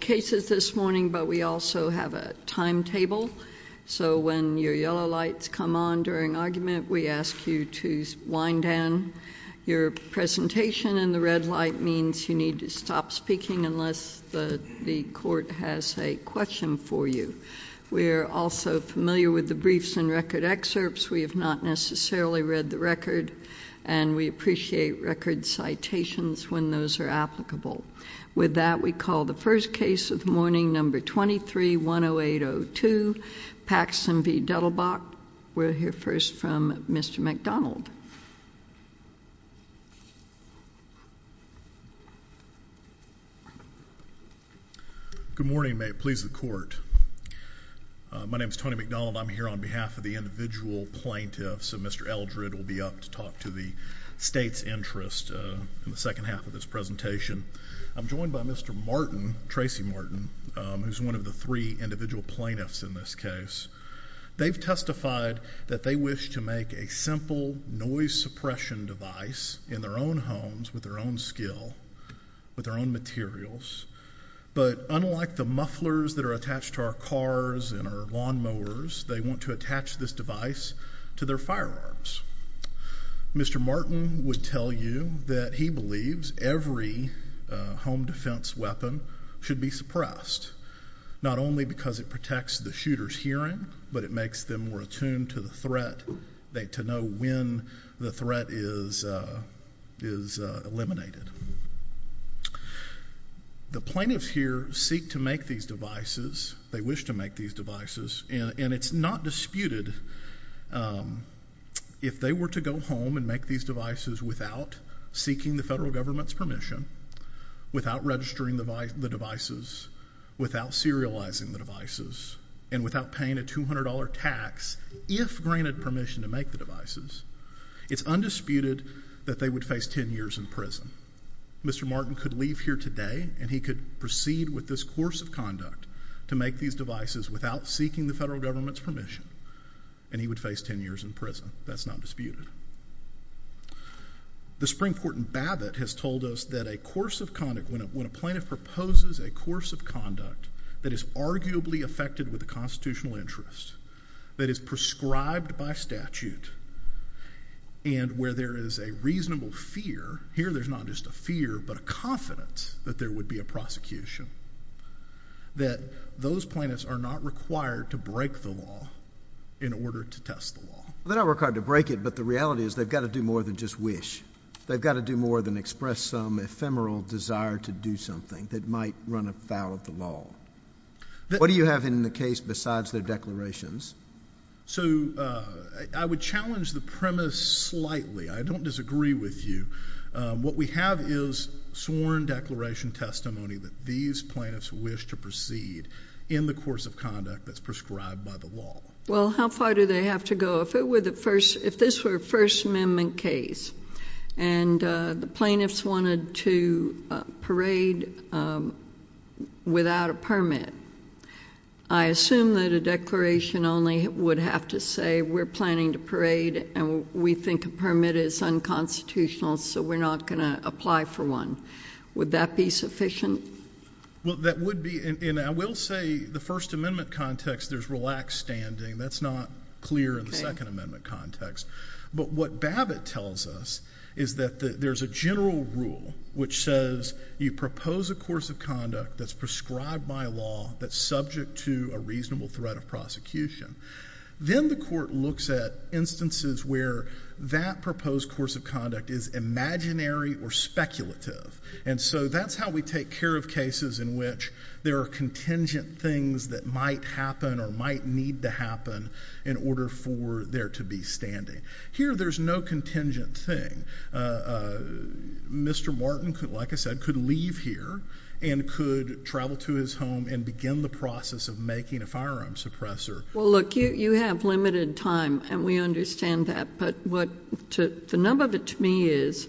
cases this morning but we also have a timetable so when your yellow lights come on during argument we ask you to wind down. Your presentation in the red light means you need to stop speaking unless the court has a question for you. We are also familiar with the briefs and record excerpts. We have not necessarily read the record and we appreciate record citations when those are applicable. With that we call the first case of the morning number 23-10802 Paxton v. Duttlebach. We'll hear first from Mr. MacDonald. Good morning. May it please the court. My name is Tony MacDonald. I'm here on behalf of the individual plaintiffs and Mr. Eldred will be up to talk to the state's interest in the second half of this presentation. I'm joined by Mr. Martin, Tracy Martin, who is one of the three individual plaintiffs in this case. They've testified that they wish to make a simple noise suppression device in their own homes with their own skill, with their own materials but unlike the mufflers that are attached to our cars and our lawnmowers they want to attach this device to their firearms. Mr. Martin would tell you that he believes every home defense weapon should be suppressed, not only because it protects the shooter's hearing but it makes them more attuned to the threat, to know when the threat is eliminated. The plaintiffs here seek to make these devices, they wish to make these and it's not disputed if they were to go home and make these devices without seeking the federal government's permission, without registering the devices, without serializing the devices and without paying a $200 tax, if granted permission to make the devices, it's undisputed that they would face 10 years in prison. Mr. Martin could leave here today and he could proceed with this course of conduct to make these devices without seeking the federal government's permission and he would face 10 years in prison, that's not disputed. The Springport and Babbitt has told us that a course of conduct, when a plaintiff proposes a course of conduct that is arguably affected with a constitutional interest, that is prescribed by statute and where there is a reasonable fear, here there's not just a fear but a confidence that there would be a prosecution, that those plaintiffs are not required to break the law in order to test the law. They're not required to break it but the reality is they've got to do more than just wish, they've got to do more than express some ephemeral desire to do something that might run afoul of the law. What do you have in the case besides their declarations? So I would challenge the premise slightly, I don't disagree with you. What we have is sworn declaration testimony that these plaintiffs wish to proceed in the course of conduct that's prescribed by the law. Well how far do they have to go? If this were a First Amendment case and the plaintiffs wanted to parade without a permit, I assume that a declaration only would have to say we're planning to parade and we think a permit is unconstitutional so we're not going to apply for one. Would that be sufficient? Well that would be and I will say the First Amendment context there's relaxed standing, that's not clear in the Second Amendment context. But what Babbitt tells us is that there's a general rule which says you propose a course of conduct that's prescribed by law, that's subject to a reasonable threat of prosecution. Then the court looks at instances where that proposed course of conduct is imaginary or speculative and so that's how we take care of cases in which there are contingent things that might happen or might need to happen in order for there to be standing. Here there's no contingent thing. Mr. Martin, like I said, could leave here and could travel to his home and begin the process of making a firearm suppressor. Well look, you have limited time and we understand that but the number of it to me is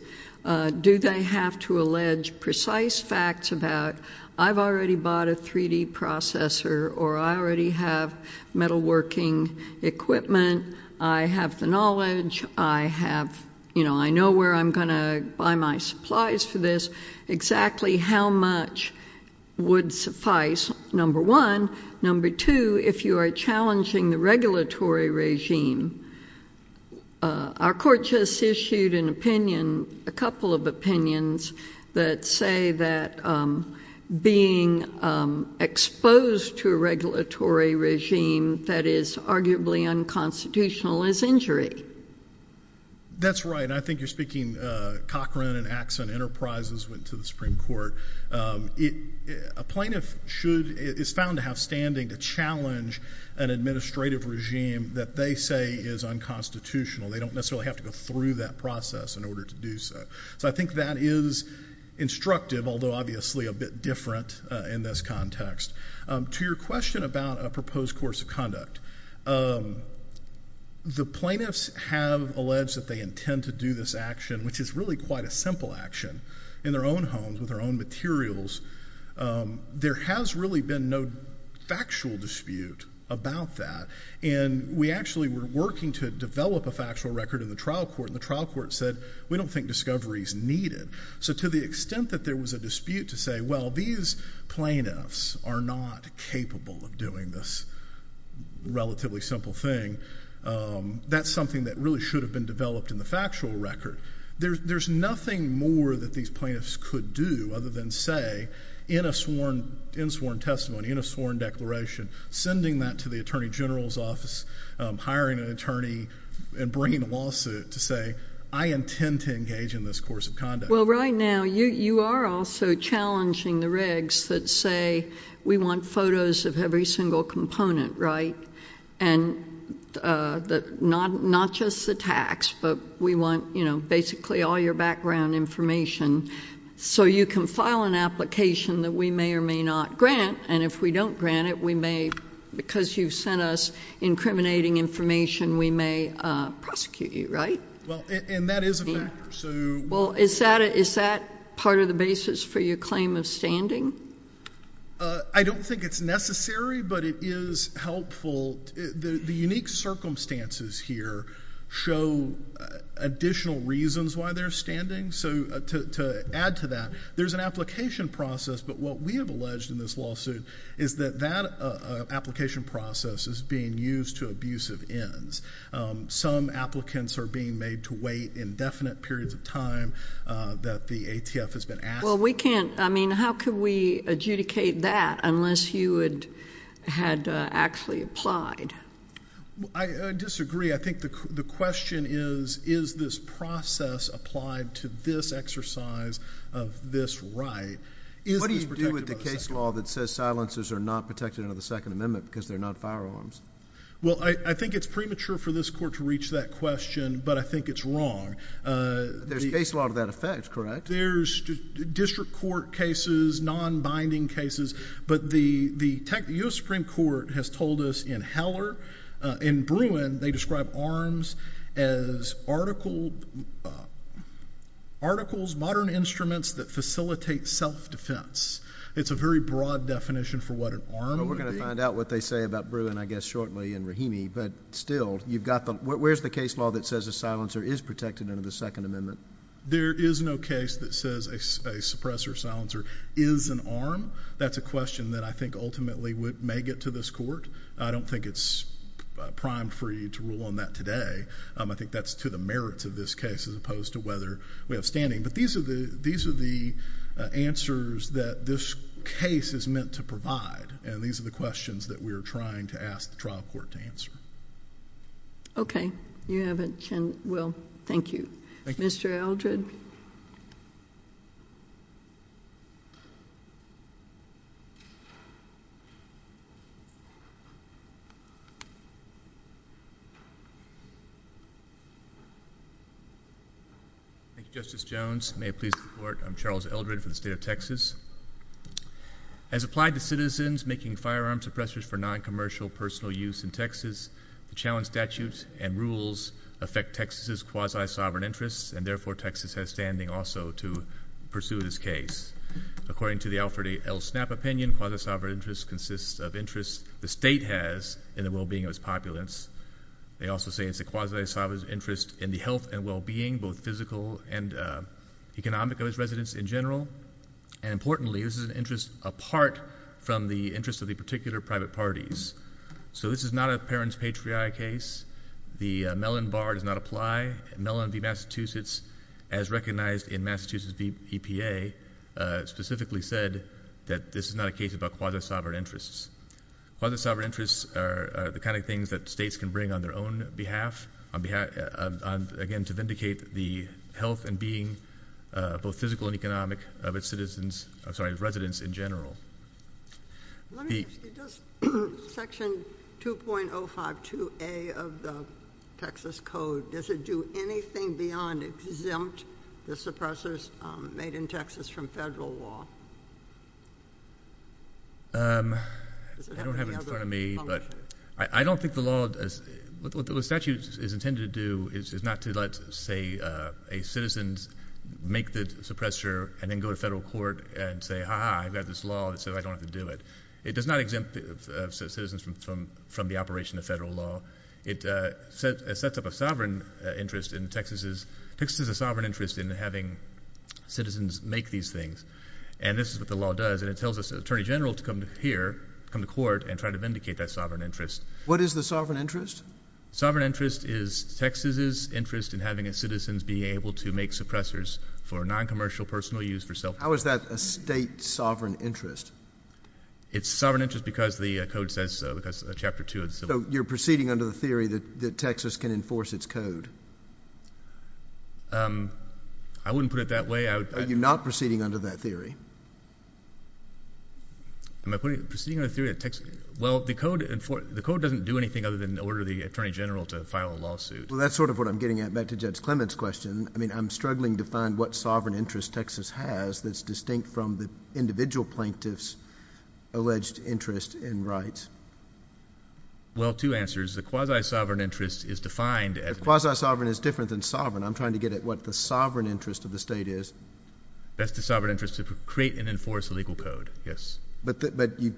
do they have to allege precise facts about I've already bought a 3D processor or I already have metal working equipment, I have the knowledge, I know where I'm going to buy my supplies for how much would suffice, number one. Number two, if you are challenging the regulatory regime, our court just issued an opinion, a couple of opinions that say that being exposed to a regulatory regime that is arguably unconstitutional is injury. That's right and I think you're right. A plaintiff is found to have standing to challenge an administrative regime that they say is unconstitutional. They don't necessarily have to go through that process in order to do so. So I think that is instructive, although obviously a bit different in this context. To your question about a proposed course of conduct, the plaintiffs have alleged that they intend to do this action, which is really quite a simple action, in their own homes with their own materials. There has really been no factual dispute about that and we actually were working to develop a factual record in the trial court and the trial court said we don't think discovery is needed. So to the extent that there was a dispute to say well these plaintiffs are not capable of doing this relatively simple thing, that's something that really should have been developed in the factual record. There's nothing more that these plaintiffs could do other than say in a sworn testimony, in a sworn declaration, sending that to the Attorney General's office, hiring an attorney and bringing a lawsuit to say I intend to engage in this course of conduct. Well right now you are also challenging the regs that say we want photos of every single component right and not just the tax but we want basically all your background information so you can file an application that we may or may not grant and if we don't grant it we may, because you've sent us incriminating information, we may prosecute you, right? And that is a factor. Is that part of the basis for your claim of standing? I don't think it's necessary but it is helpful. The unique circumstances here show additional reasons why they're standing so to add to that, there's an application process but what we have alleged in this lawsuit is that that application process is being used to abusive ends. Some applicants are being made to wait indefinite periods of time that the ATF has been asking for. Well we can't, I mean how could we adjudicate that unless you had actually applied? I disagree. I think the question is, is this process applied to this exercise of this right? What do you do with the case law that says silencers are not protected under the Second Amendment because they're not firearms? Well I think it's premature for this court to reach that question but I think it's wrong. There's case law to that effect, correct? There's district court cases, non-binding cases but the U.S. Supreme Court has told us in Heller, in Bruin, they describe arms as articles, modern instruments that facilitate self-defense. It's a very broad definition for what an arm would be. Well we're going to find out what they say about Bruin I guess shortly in Rahimi but still you've got the, where's the case law that says a silencer is protected under the Second Amendment? There is no case that says a suppressor silencer is an arm. That's a question that I think ultimately may get to this court. I don't think it's primed for you to rule on that today. I think that's to the merits of this case as opposed to whether we have standing but these are the answers that this case is meant to provide and these are the questions that we are trying to ask the trial court to answer. Okay. You have a chance, well thank you. Mr. Eldred? Thank you, Justice Jones. May it please the court, I'm Charles Eldred from the State of Texas. As applied to citizens making firearms suppressors for non-commercial personal use in Texas, the challenge statutes and rules affect Texas' quasi-sovereign interests and therefore Texas has standing also to pursue this case. According to the Alfred L. Snapp opinion, quasi-sovereign interests consist of interests the state has in the well-being of its populace. They also say it's a quasi-sovereign interest in the health and well-being, both physical and economic, of its residents in general. And importantly, this is an interest apart from the interest of the particular private parties. So this is not a parent's patriotic case. The Mellon bar does not apply. Mellon v. Massachusetts, as recognized in the Mellon bar, is not a case about quasi-sovereign interests. Quasi-sovereign interests are the kind of things that states can bring on their own behalf, again to vindicate the health and being, both physical and economic, of its citizens, I'm sorry, of its residents in general. Let me ask you, does section 2.052A of the Texas Code, does it do anything beyond exempt the suppressors made in Texas from federal law? I don't have it in front of me, but I don't think the law, what the statute is intended to do is not to let, say, a citizen make the suppressor and then go to federal court and say, ha-ha, I've got this law, and so I don't have to do it. It does not exempt citizens from the operation of federal law. It sets up a sovereign interest in Texas's, Texas has a sovereign interest in having citizens make these things, and this is what the law does, and it tells the Attorney General to come here, come to court, and try to vindicate that sovereign interest. What is the sovereign interest? Sovereign interest is Texas's interest in having its citizens be able to make suppressors for non-commercial personal use for self-defense. How is that a state sovereign interest? It's proceeding under the theory that Texas can enforce its code. I wouldn't put it that way. Are you not proceeding under that theory? Am I proceeding under the theory that Texas... well, the code doesn't do anything other than order the Attorney General to file a lawsuit. Well, that's sort of what I'm getting at. Back to Judge Clement's question, I mean, I'm struggling to find what sovereign interest Texas has that's distinct from the individual plaintiff's alleged interest in rights. Well, two answers. The quasi-sovereign interest is defined as... The quasi-sovereign is different than sovereign. I'm trying to get at what the sovereign interest of the state is. That's the sovereign interest to create and enforce a legal code, yes. But you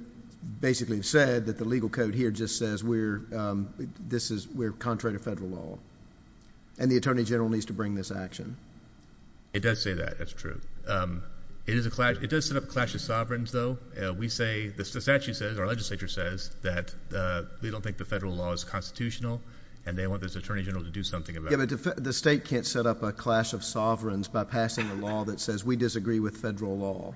basically have said that the legal code here just says we're contrary to federal law, and the Attorney General needs to bring this action. It does say that. That's true. It does set up a clash of sovereigns, though. We say... the statute says, our legislature says, that we don't think the federal law is constitutional, and they want this Attorney General to do something about it. Yeah, but the state can't set up a clash of sovereigns by passing a law that says we disagree with federal law.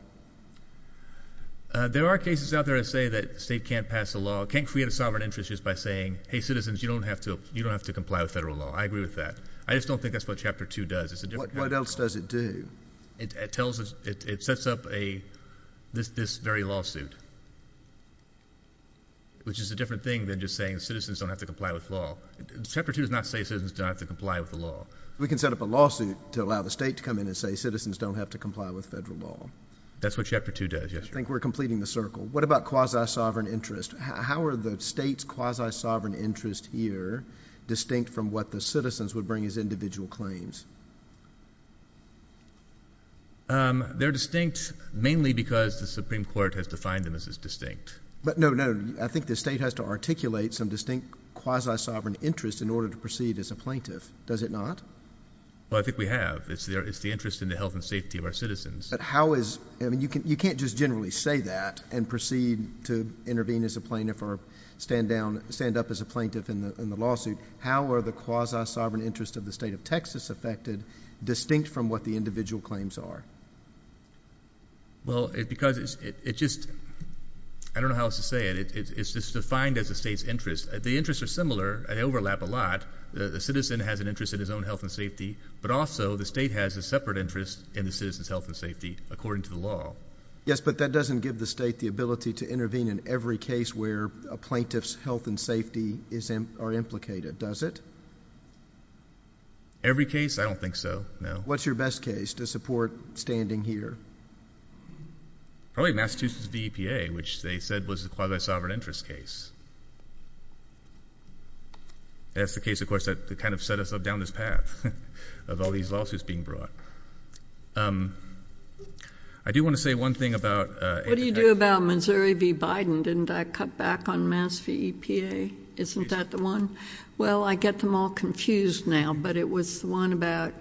There are cases out there that say that the state can't pass a law, can't create a sovereign interest just by saying, hey, citizens, you don't have to comply with federal law. I agree with that. I just don't think that's what Chapter 2 does. What else does it do? It tells us... it sets up a... this very lawsuit, which is a different thing than just saying citizens don't have to comply with law. Chapter 2 does not say citizens don't have to comply with the law. We can set up a lawsuit to allow the state to come in and say citizens don't have to comply with federal law. That's what Chapter 2 does, yes, Your Honor. I think we're completing the circle. What about quasi-sovereign interest? How are the state's quasi-sovereign interest here distinct from what the citizens would bring as individual claims? They're distinct mainly because the Supreme Court has defined them as distinct. But no, no, I think the state has to articulate some distinct quasi-sovereign interest in order to proceed as a plaintiff. Does it not? Well, I think we have. It's the interest in the health and safety of our citizens. But how is... I mean, you can't just generally say that and proceed to intervene as a plaintiff or stand up as a plaintiff in the lawsuit. How are the quasi-sovereign interest of the state of Texas affected distinct from what the individual claims are? Well, because it's just... I don't know how else to say it. It's just defined as the state's interest. The interests are similar. They overlap a lot. The citizen has an interest in his own health and safety, but also the state has a separate interest in the citizen's health and safety according to the law. Yes, but that doesn't give the state the ability to intervene in every case where a plaintiff's health and safety are implicated, does it? Every case? I don't think so, no. What's your best case to support standing here? Probably Massachusetts v. EPA, which they said was a quasi-sovereign interest case. That's the case, of course, that kind of set us up down this path of all these lawsuits being brought. I do want to say one thing about... What do you do about Missouri v. Biden? Didn't I cut back on Mass v. EPA? Isn't that the one? Well, I get them all confused now, but it was the one about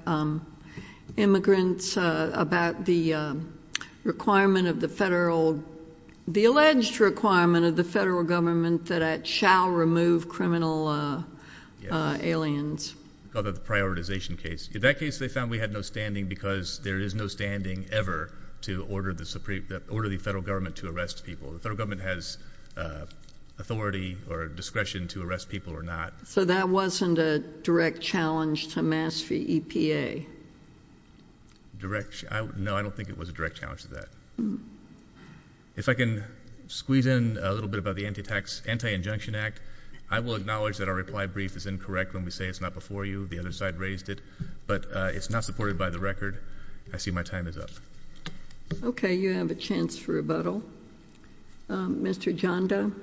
immigrants, about the requirement of the federal... the alleged requirement of the federal government that it shall remove criminal aliens. Oh, that's part of the prioritization case. In that case, they found we had no standing because there is no standing ever to order the federal government to arrest people. The federal government has authority or discretion to arrest people or not. So that wasn't a direct challenge to Mass v. EPA? No, I don't think it was a direct challenge to that. If I can squeeze in a little bit about the Anti-Injunction Act, I will acknowledge that our reply brief is incorrect when we say it's not before you. The other side raised it. But it's not supported by the record. I see my time is up. Okay, you have a chance for rebuttal. Mr. Janda?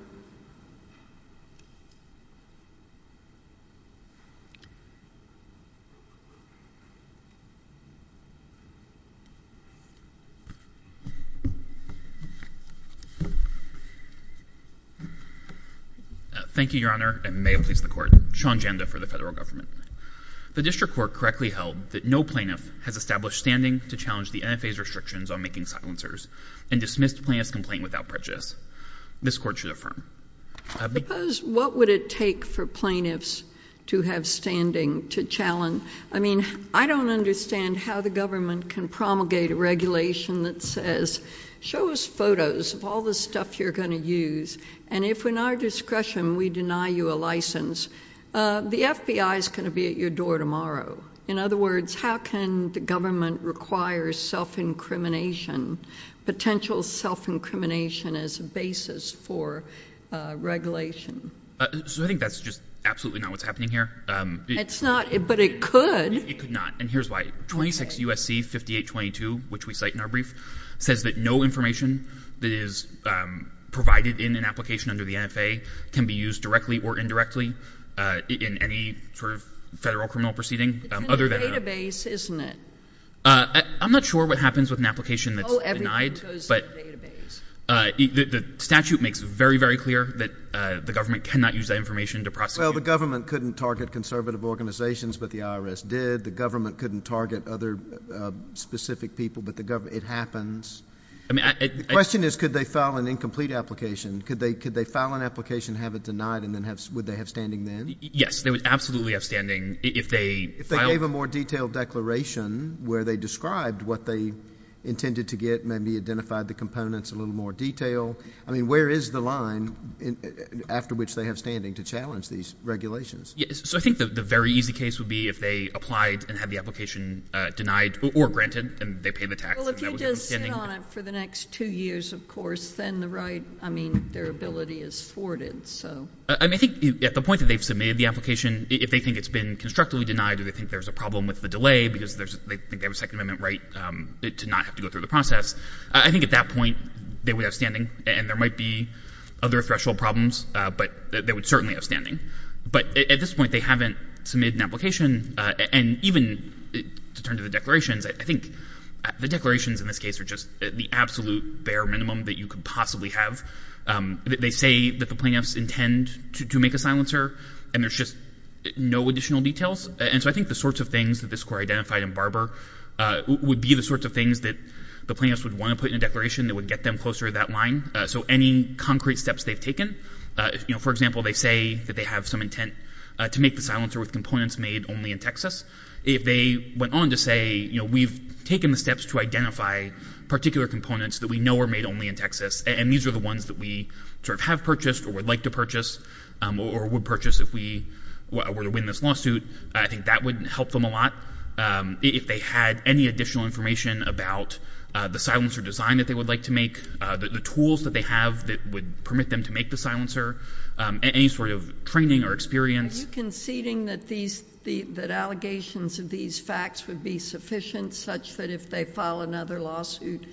Thank you, Your Honor, and may it please the Court. Sean Janda for the Federal Government. The District Court correctly held that no plaintiff has established standing to challenge the NFA's restrictions on making silencers and dismissed plaintiff's complaint without prejudice. This Court should affirm. I suppose what would it take for plaintiffs to have standing to challenge? I mean, I don't understand how the government can promulgate a regulation that says, show us photos of all the stuff you're going to use, and if in our discretion we deny you a license, the FBI is going to be at your door tomorrow. In other words, how can the government require self-incrimination, potential self-incrimination as a basis for regulation? So I think that's just absolutely not what's happening here. It's not, but it could. It could not, and here's why. 26 U.S.C. 5822, which we cite in our brief, says that no information that is provided in an application under the NFA can be used directly or indirectly in any sort of federal criminal proceeding. It's in the database, isn't it? I'm not sure what happens with an application that's denied, but the statute makes it very, very clear that the government cannot use that information to prosecute. Well, the government couldn't target conservative organizations, but the IRS did. The government couldn't target other specific people, but it happens. The question is, could they file an incomplete application? Could they file an application, have it denied, and would they have standing then? Yes, they would absolutely have standing if they filed. If they gave a more detailed declaration where they described what they intended to get, maybe identified the components a little more detail. I mean, where is the line after which they have standing to challenge these regulations? So I think the very easy case would be if they applied and had the application denied or granted and they paid the tax. Well, if you just sit on it for the next two years, of course, then the right, I mean, their ability is thwarted, so. I mean, I think at the point that they've submitted the application, if they think it's been constructively denied or they think there's a problem with the delay because they think they have a Second Amendment right to not have to go through the process, I think at that point they would have standing and there might be other threshold problems, but they would certainly have standing. But at this point, they haven't submitted an application, and even to turn to the declarations, I think the declarations in this case are just the absolute bare minimum that you could possibly have. They say that the plaintiffs intend to make a silencer, and there's just no additional details. And so I think the sorts of things that this Court identified in Barber would be the sorts of things that the plaintiffs would want to put in a declaration that would get them closer to that line. So any concrete steps they've taken, you know, for example, they say that they have some intent to make the silencer with components made only in Texas. If they went on to say, you know, we've taken the steps to identify particular components that we know are made only in Texas, and these are the ones that we sort of have purchased or would like to purchase or would purchase if we were to win this lawsuit, I think that would help them a lot. If they had any additional information about the silencer design that they would like to make, the tools that they have that would permit them to make the silencer, any sort of training or experience. Are you conceding that these — that allegations of these facts would be sufficient such that if they file another lawsuit,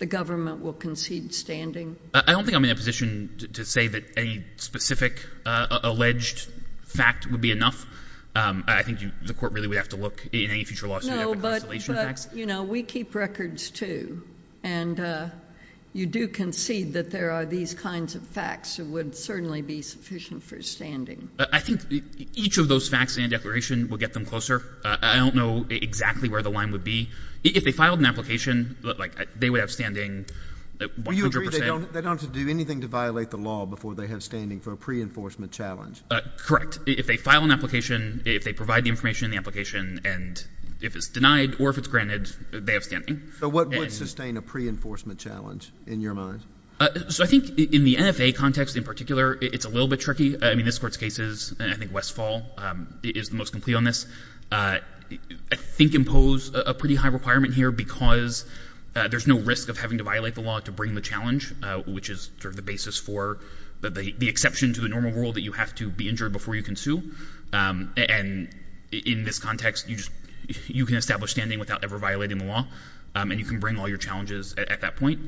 the government will concede standing? I don't think I'm in a position to say that any specific alleged fact would be enough. I think you — the Court really would have to look in any future lawsuit at the constellation facts. No, but, you know, we keep records, too. And you do concede that there are these kinds of facts that would certainly be sufficient for standing. I think each of those facts and declaration would get them closer. I don't know exactly where the line would be. If they filed an application, like, they would have standing 100 percent. Do you agree they don't have to do anything to violate the law before they have standing for a pre-enforcement challenge? Correct. If they file an application, if they provide the information in the application, and if it's denied or if it's granted, they have standing. So what would sustain a pre-enforcement challenge in your mind? So I think in the NFA context in particular, it's a little bit tricky. I mean, this Court's cases, and I think Westfall is the most complete on this, I think impose a pretty high requirement here because there's no risk of having to violate the law to bring the challenge, which is sort of the basis for the exception to the normal rule that you have to be injured before you can sue. And in this context, you just — you can establish standing without ever violating the law, and you can bring all your challenges at that point.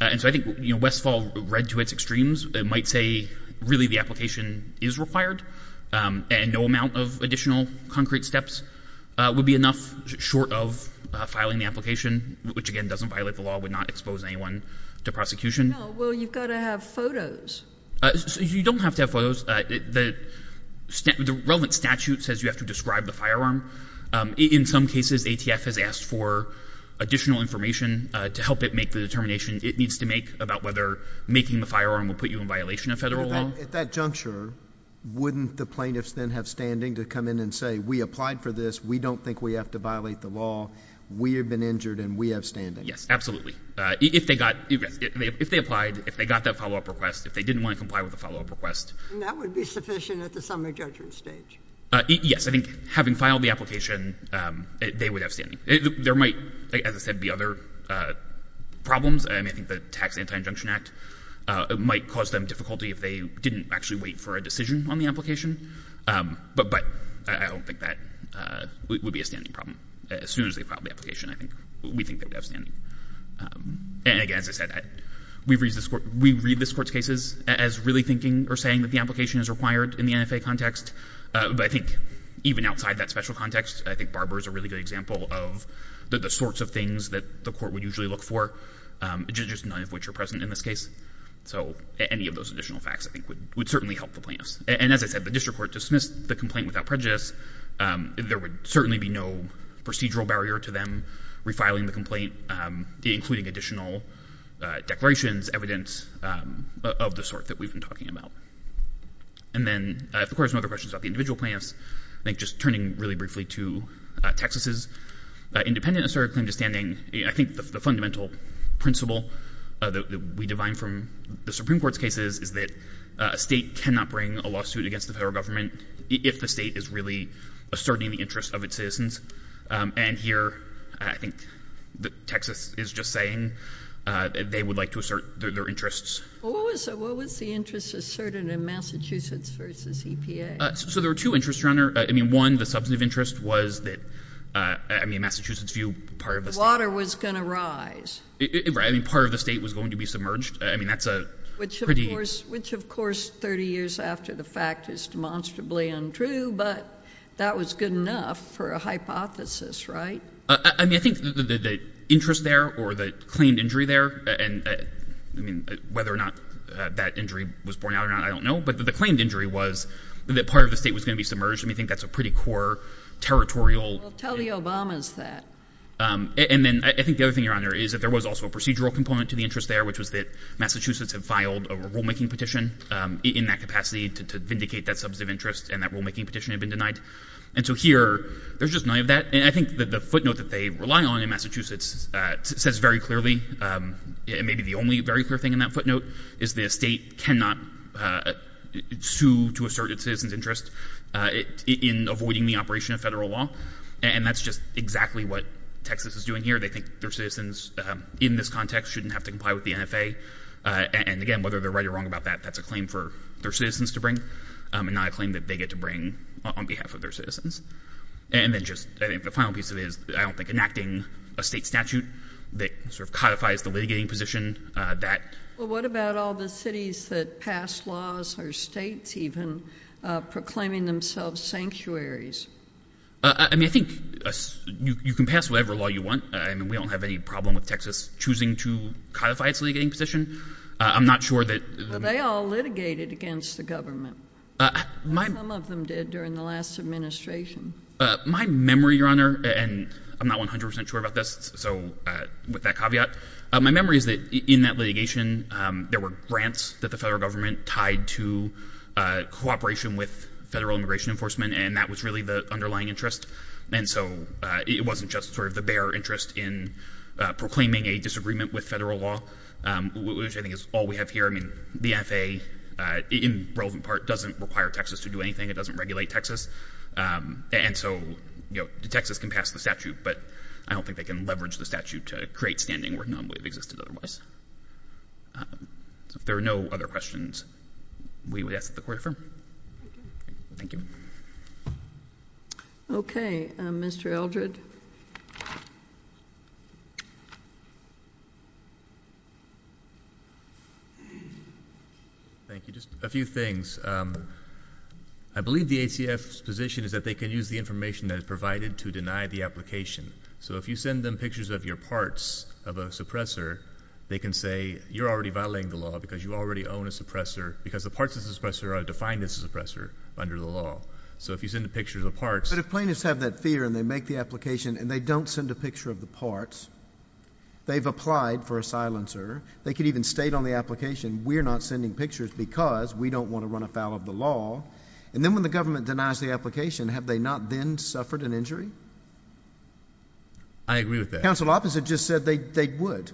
And so I think, you know, Westfall read to its extremes. It might say really the application is required, and no amount of additional concrete steps would be enough short of filing the application, which, again, doesn't violate the law, would not expose anyone to prosecution. No. Well, you've got to have photos. You don't have to have photos. The relevant statute says you have to describe the firearm. In some cases, ATF has asked for additional information to help it make the determination it needs to make about whether making the firearm will put you in violation of Federal law. So at that juncture, wouldn't the plaintiffs then have standing to come in and say, we applied for this, we don't think we have to violate the law, we have been injured, and we have standing? Yes, absolutely. If they got — if they applied, if they got that follow-up request, if they didn't want to comply with the follow-up request. And that would be sufficient at the summary judgment stage? Yes. I think having filed the application, they would have standing. There might, as I said, be other problems, and I think the Tax Anti-Injunction Act might cause them difficulty if they didn't actually wait for a decision on the application. But I don't think that would be a standing problem. As soon as they filed the application, I think — we think they would have standing. And again, as I said, we read this Court's cases as really thinking or saying that the application is required in the NFA context. But I think even outside that special context, I think Barber is a really good example of the sorts of things that the Court would usually look for, just none of which are present in this case. So any of those additional facts, I think, would certainly help the plaintiffs. And as I said, the district court dismissed the complaint without prejudice. There would certainly be no procedural barrier to them refiling the complaint, including additional declarations, evidence of the sort that we've been talking about. And then if the Court has no other questions about the individual plaintiffs, I think just turning really briefly to Texas's independent asserted claim to standing, I think the fundamental principle that we divine from the Supreme Court's cases is that a state cannot bring a lawsuit against the federal government if the state is really asserting the interest of its citizens. And here, I think that Texas is just saying that they would like to assert their interests. What was the interest asserted in Massachusetts v. EPA? So there were two interests, Your Honor. I mean, one, the substantive interest was that — I mean, Massachusetts' view, part of the — The water was going to rise. Right. I mean, part of the state was going to be submerged. I mean, that's a — Which, of course, 30 years after the fact is demonstrably untrue, but that was good enough for a hypothesis, right? I mean, I think the interest there or the claimed injury there — I mean, whether or not that injury was borne out or not, I don't know — but the claimed injury was that part of the state was going to be submerged. I mean, I think that's a pretty core territorial — Well, tell the Obamas that. And then, I think the other thing, Your Honor, is that there was also a procedural component to the interest there, which was that Massachusetts had filed a rulemaking petition in that capacity to vindicate that substantive interest, and that rulemaking petition had been denied. And so here, there's just none of that. And I think that the footnote that they rely on in Massachusetts says very clearly — it may be the only very clear thing in that footnote — is that a state cannot sue to assert its citizen's interest in avoiding the operation of federal law. And that's just exactly what Texas is doing here. They think their citizens, in this context, shouldn't have to comply with the NFA. And again, whether they're right or wrong about that, that's a claim for their citizens to bring and not a claim that they get to bring on behalf of their citizens. And then just, I think, the final piece of it is, I don't think, enacting a state statute that sort of codifies the litigating position that — Well, what about all the cities that pass laws, or states even, proclaiming themselves sanctuaries? I mean, I think you can pass whatever law you want. I mean, we don't have any problem with Texas choosing to codify its litigating position. I'm not sure that — Well, they all litigated against the government, and some of them did during the last administration. My memory, Your Honor — and I'm not 100 percent sure about this, so with that caveat — my memory is that in that litigation, there were grants that the federal government tied to cooperation with federal immigration enforcement, and that was really the underlying interest. And so, it wasn't just sort of the bare interest in proclaiming a disagreement with federal law, which I think is all we have here. I mean, the NFA, in relevant part, doesn't require Texas to do anything. It doesn't regulate Texas. And so, you know, Texas can pass the statute, but I don't think they can leverage the statute to create standing where none would have existed otherwise. So if there are no other questions, we will ask that the Court affirm. Thank you. Okay. Mr. Eldred? Thank you. Just a few things. I believe the ACF's position is that they can use the information that is provided to deny the application. So if you send them pictures of your parts of a suppressor, they can say, you're already violating the law because you already own a suppressor, because the parts of the suppressor are defined as a suppressor under the law. So if you send the pictures of parts — But if plaintiffs have that fear and they make the application and they don't send a picture of the parts, they've applied for a silencer, they could even state on the application, we're not sending pictures because we don't want to run afoul of the law, and then when the government denies the application, have they not then suffered an injury? I agree with that. The counsel opposite just said they would.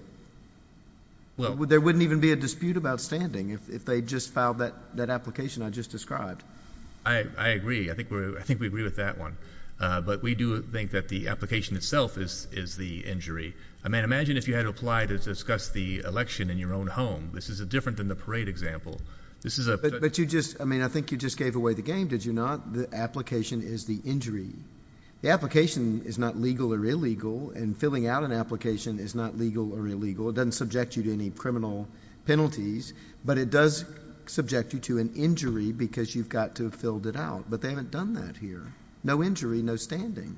There wouldn't even be a dispute about standing if they just filed that application I just described. I agree. I think we agree with that one. But we do think that the application itself is the injury. I mean, imagine if you had to apply to discuss the election in your own home. This is different than the parade example. This is a — But you just — I mean, I think you just gave away the game. Did you not? The application is the injury. The application is not legal or illegal, and filling out an application is not legal or illegal. It doesn't subject you to any criminal penalties, but it does subject you to an injury because you've got to have filled it out. But they haven't done that here. No injury, no standing.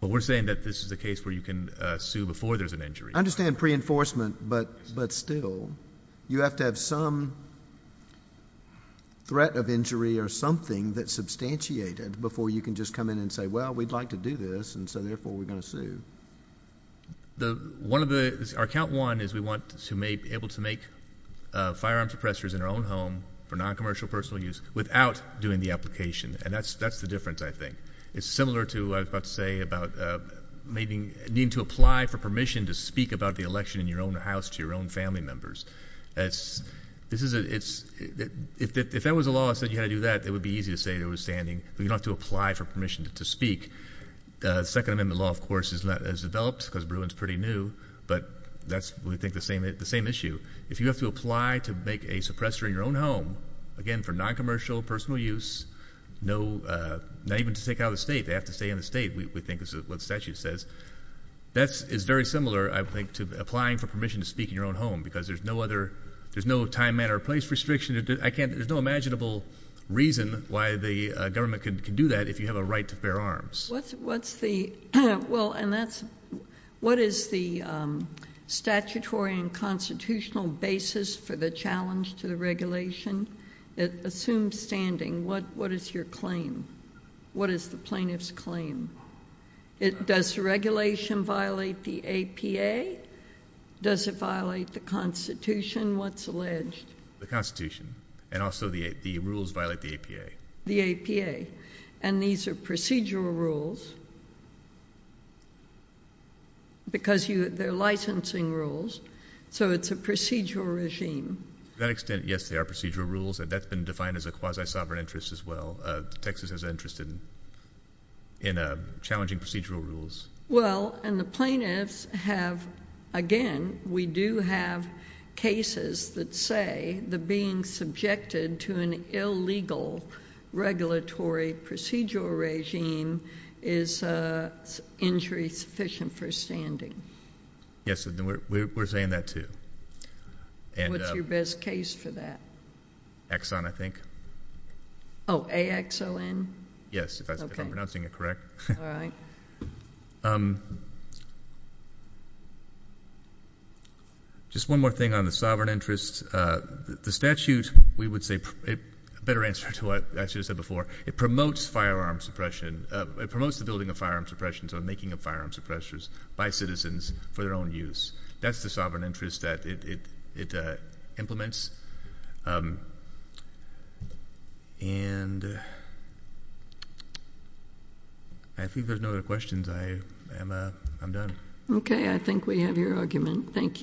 Well, we're saying that this is a case where you can sue before there's an injury. I understand pre-enforcement, but still, you have to have some threat of injury or something that's substantiated before you can just come in and say, well, we'd like to do this, and so therefore we're going to sue. One of the — our count one is we want to be able to make firearm suppressors in our own home for noncommercial personal use without doing the application, and that's the difference, I think. It's similar to what I was about to say about needing to apply for permission to speak about the election in your own house to your own family members. That's — this is a — if that was a law that said you had to do that, it would be easy to say there was standing, but you don't have to apply for permission to speak. Second Amendment law, of course, is developed because Bruin's pretty new, but that's, we think, the same issue. If you have to apply to make a suppressor in your own home, again, for noncommercial personal use, no — not even to take out of the state. They have to stay in the state, we think, is what the statute says. That is very similar, I think, to applying for permission to speak in your own home, because there's no other — there's no time, manner, or place restriction. I can't — there's no imaginable reason why the government can do that if you have a right to bear arms. What's the — well, and that's — what is the statutory and constitutional basis for the challenge to the regulation? It assumes standing. What is your claim? What is the plaintiff's claim? Does regulation violate the APA? Does it violate the Constitution? What's alleged? The Constitution, and also the rules violate the APA. The APA. And these are procedural rules, because you — they're licensing rules, so it's a procedural regime. To that extent, yes, they are procedural rules, and that's been defined as a quasi-sovereign interest as well. Texas is interested in challenging procedural rules. Well, and the plaintiffs have — again, we do have cases that say that being subjected to an illegal regulatory procedural regime is injury-sufficient for standing. Yes, and we're saying that, too. And — What's your best case for that? Exxon, I think. Oh, A-X-O-N? Yes. Okay. If I'm pronouncing it correct. All right. Just one more thing on the sovereign interest. The statute, we would say — a better answer to what I should have said before. It promotes firearm suppression — it promotes the building of firearm suppression, so the making of firearm suppressors, by citizens for their own use. That's the sovereign interest that it implements, and I think there's no other questions. I'm done. Okay. I think we have your argument. Thank you.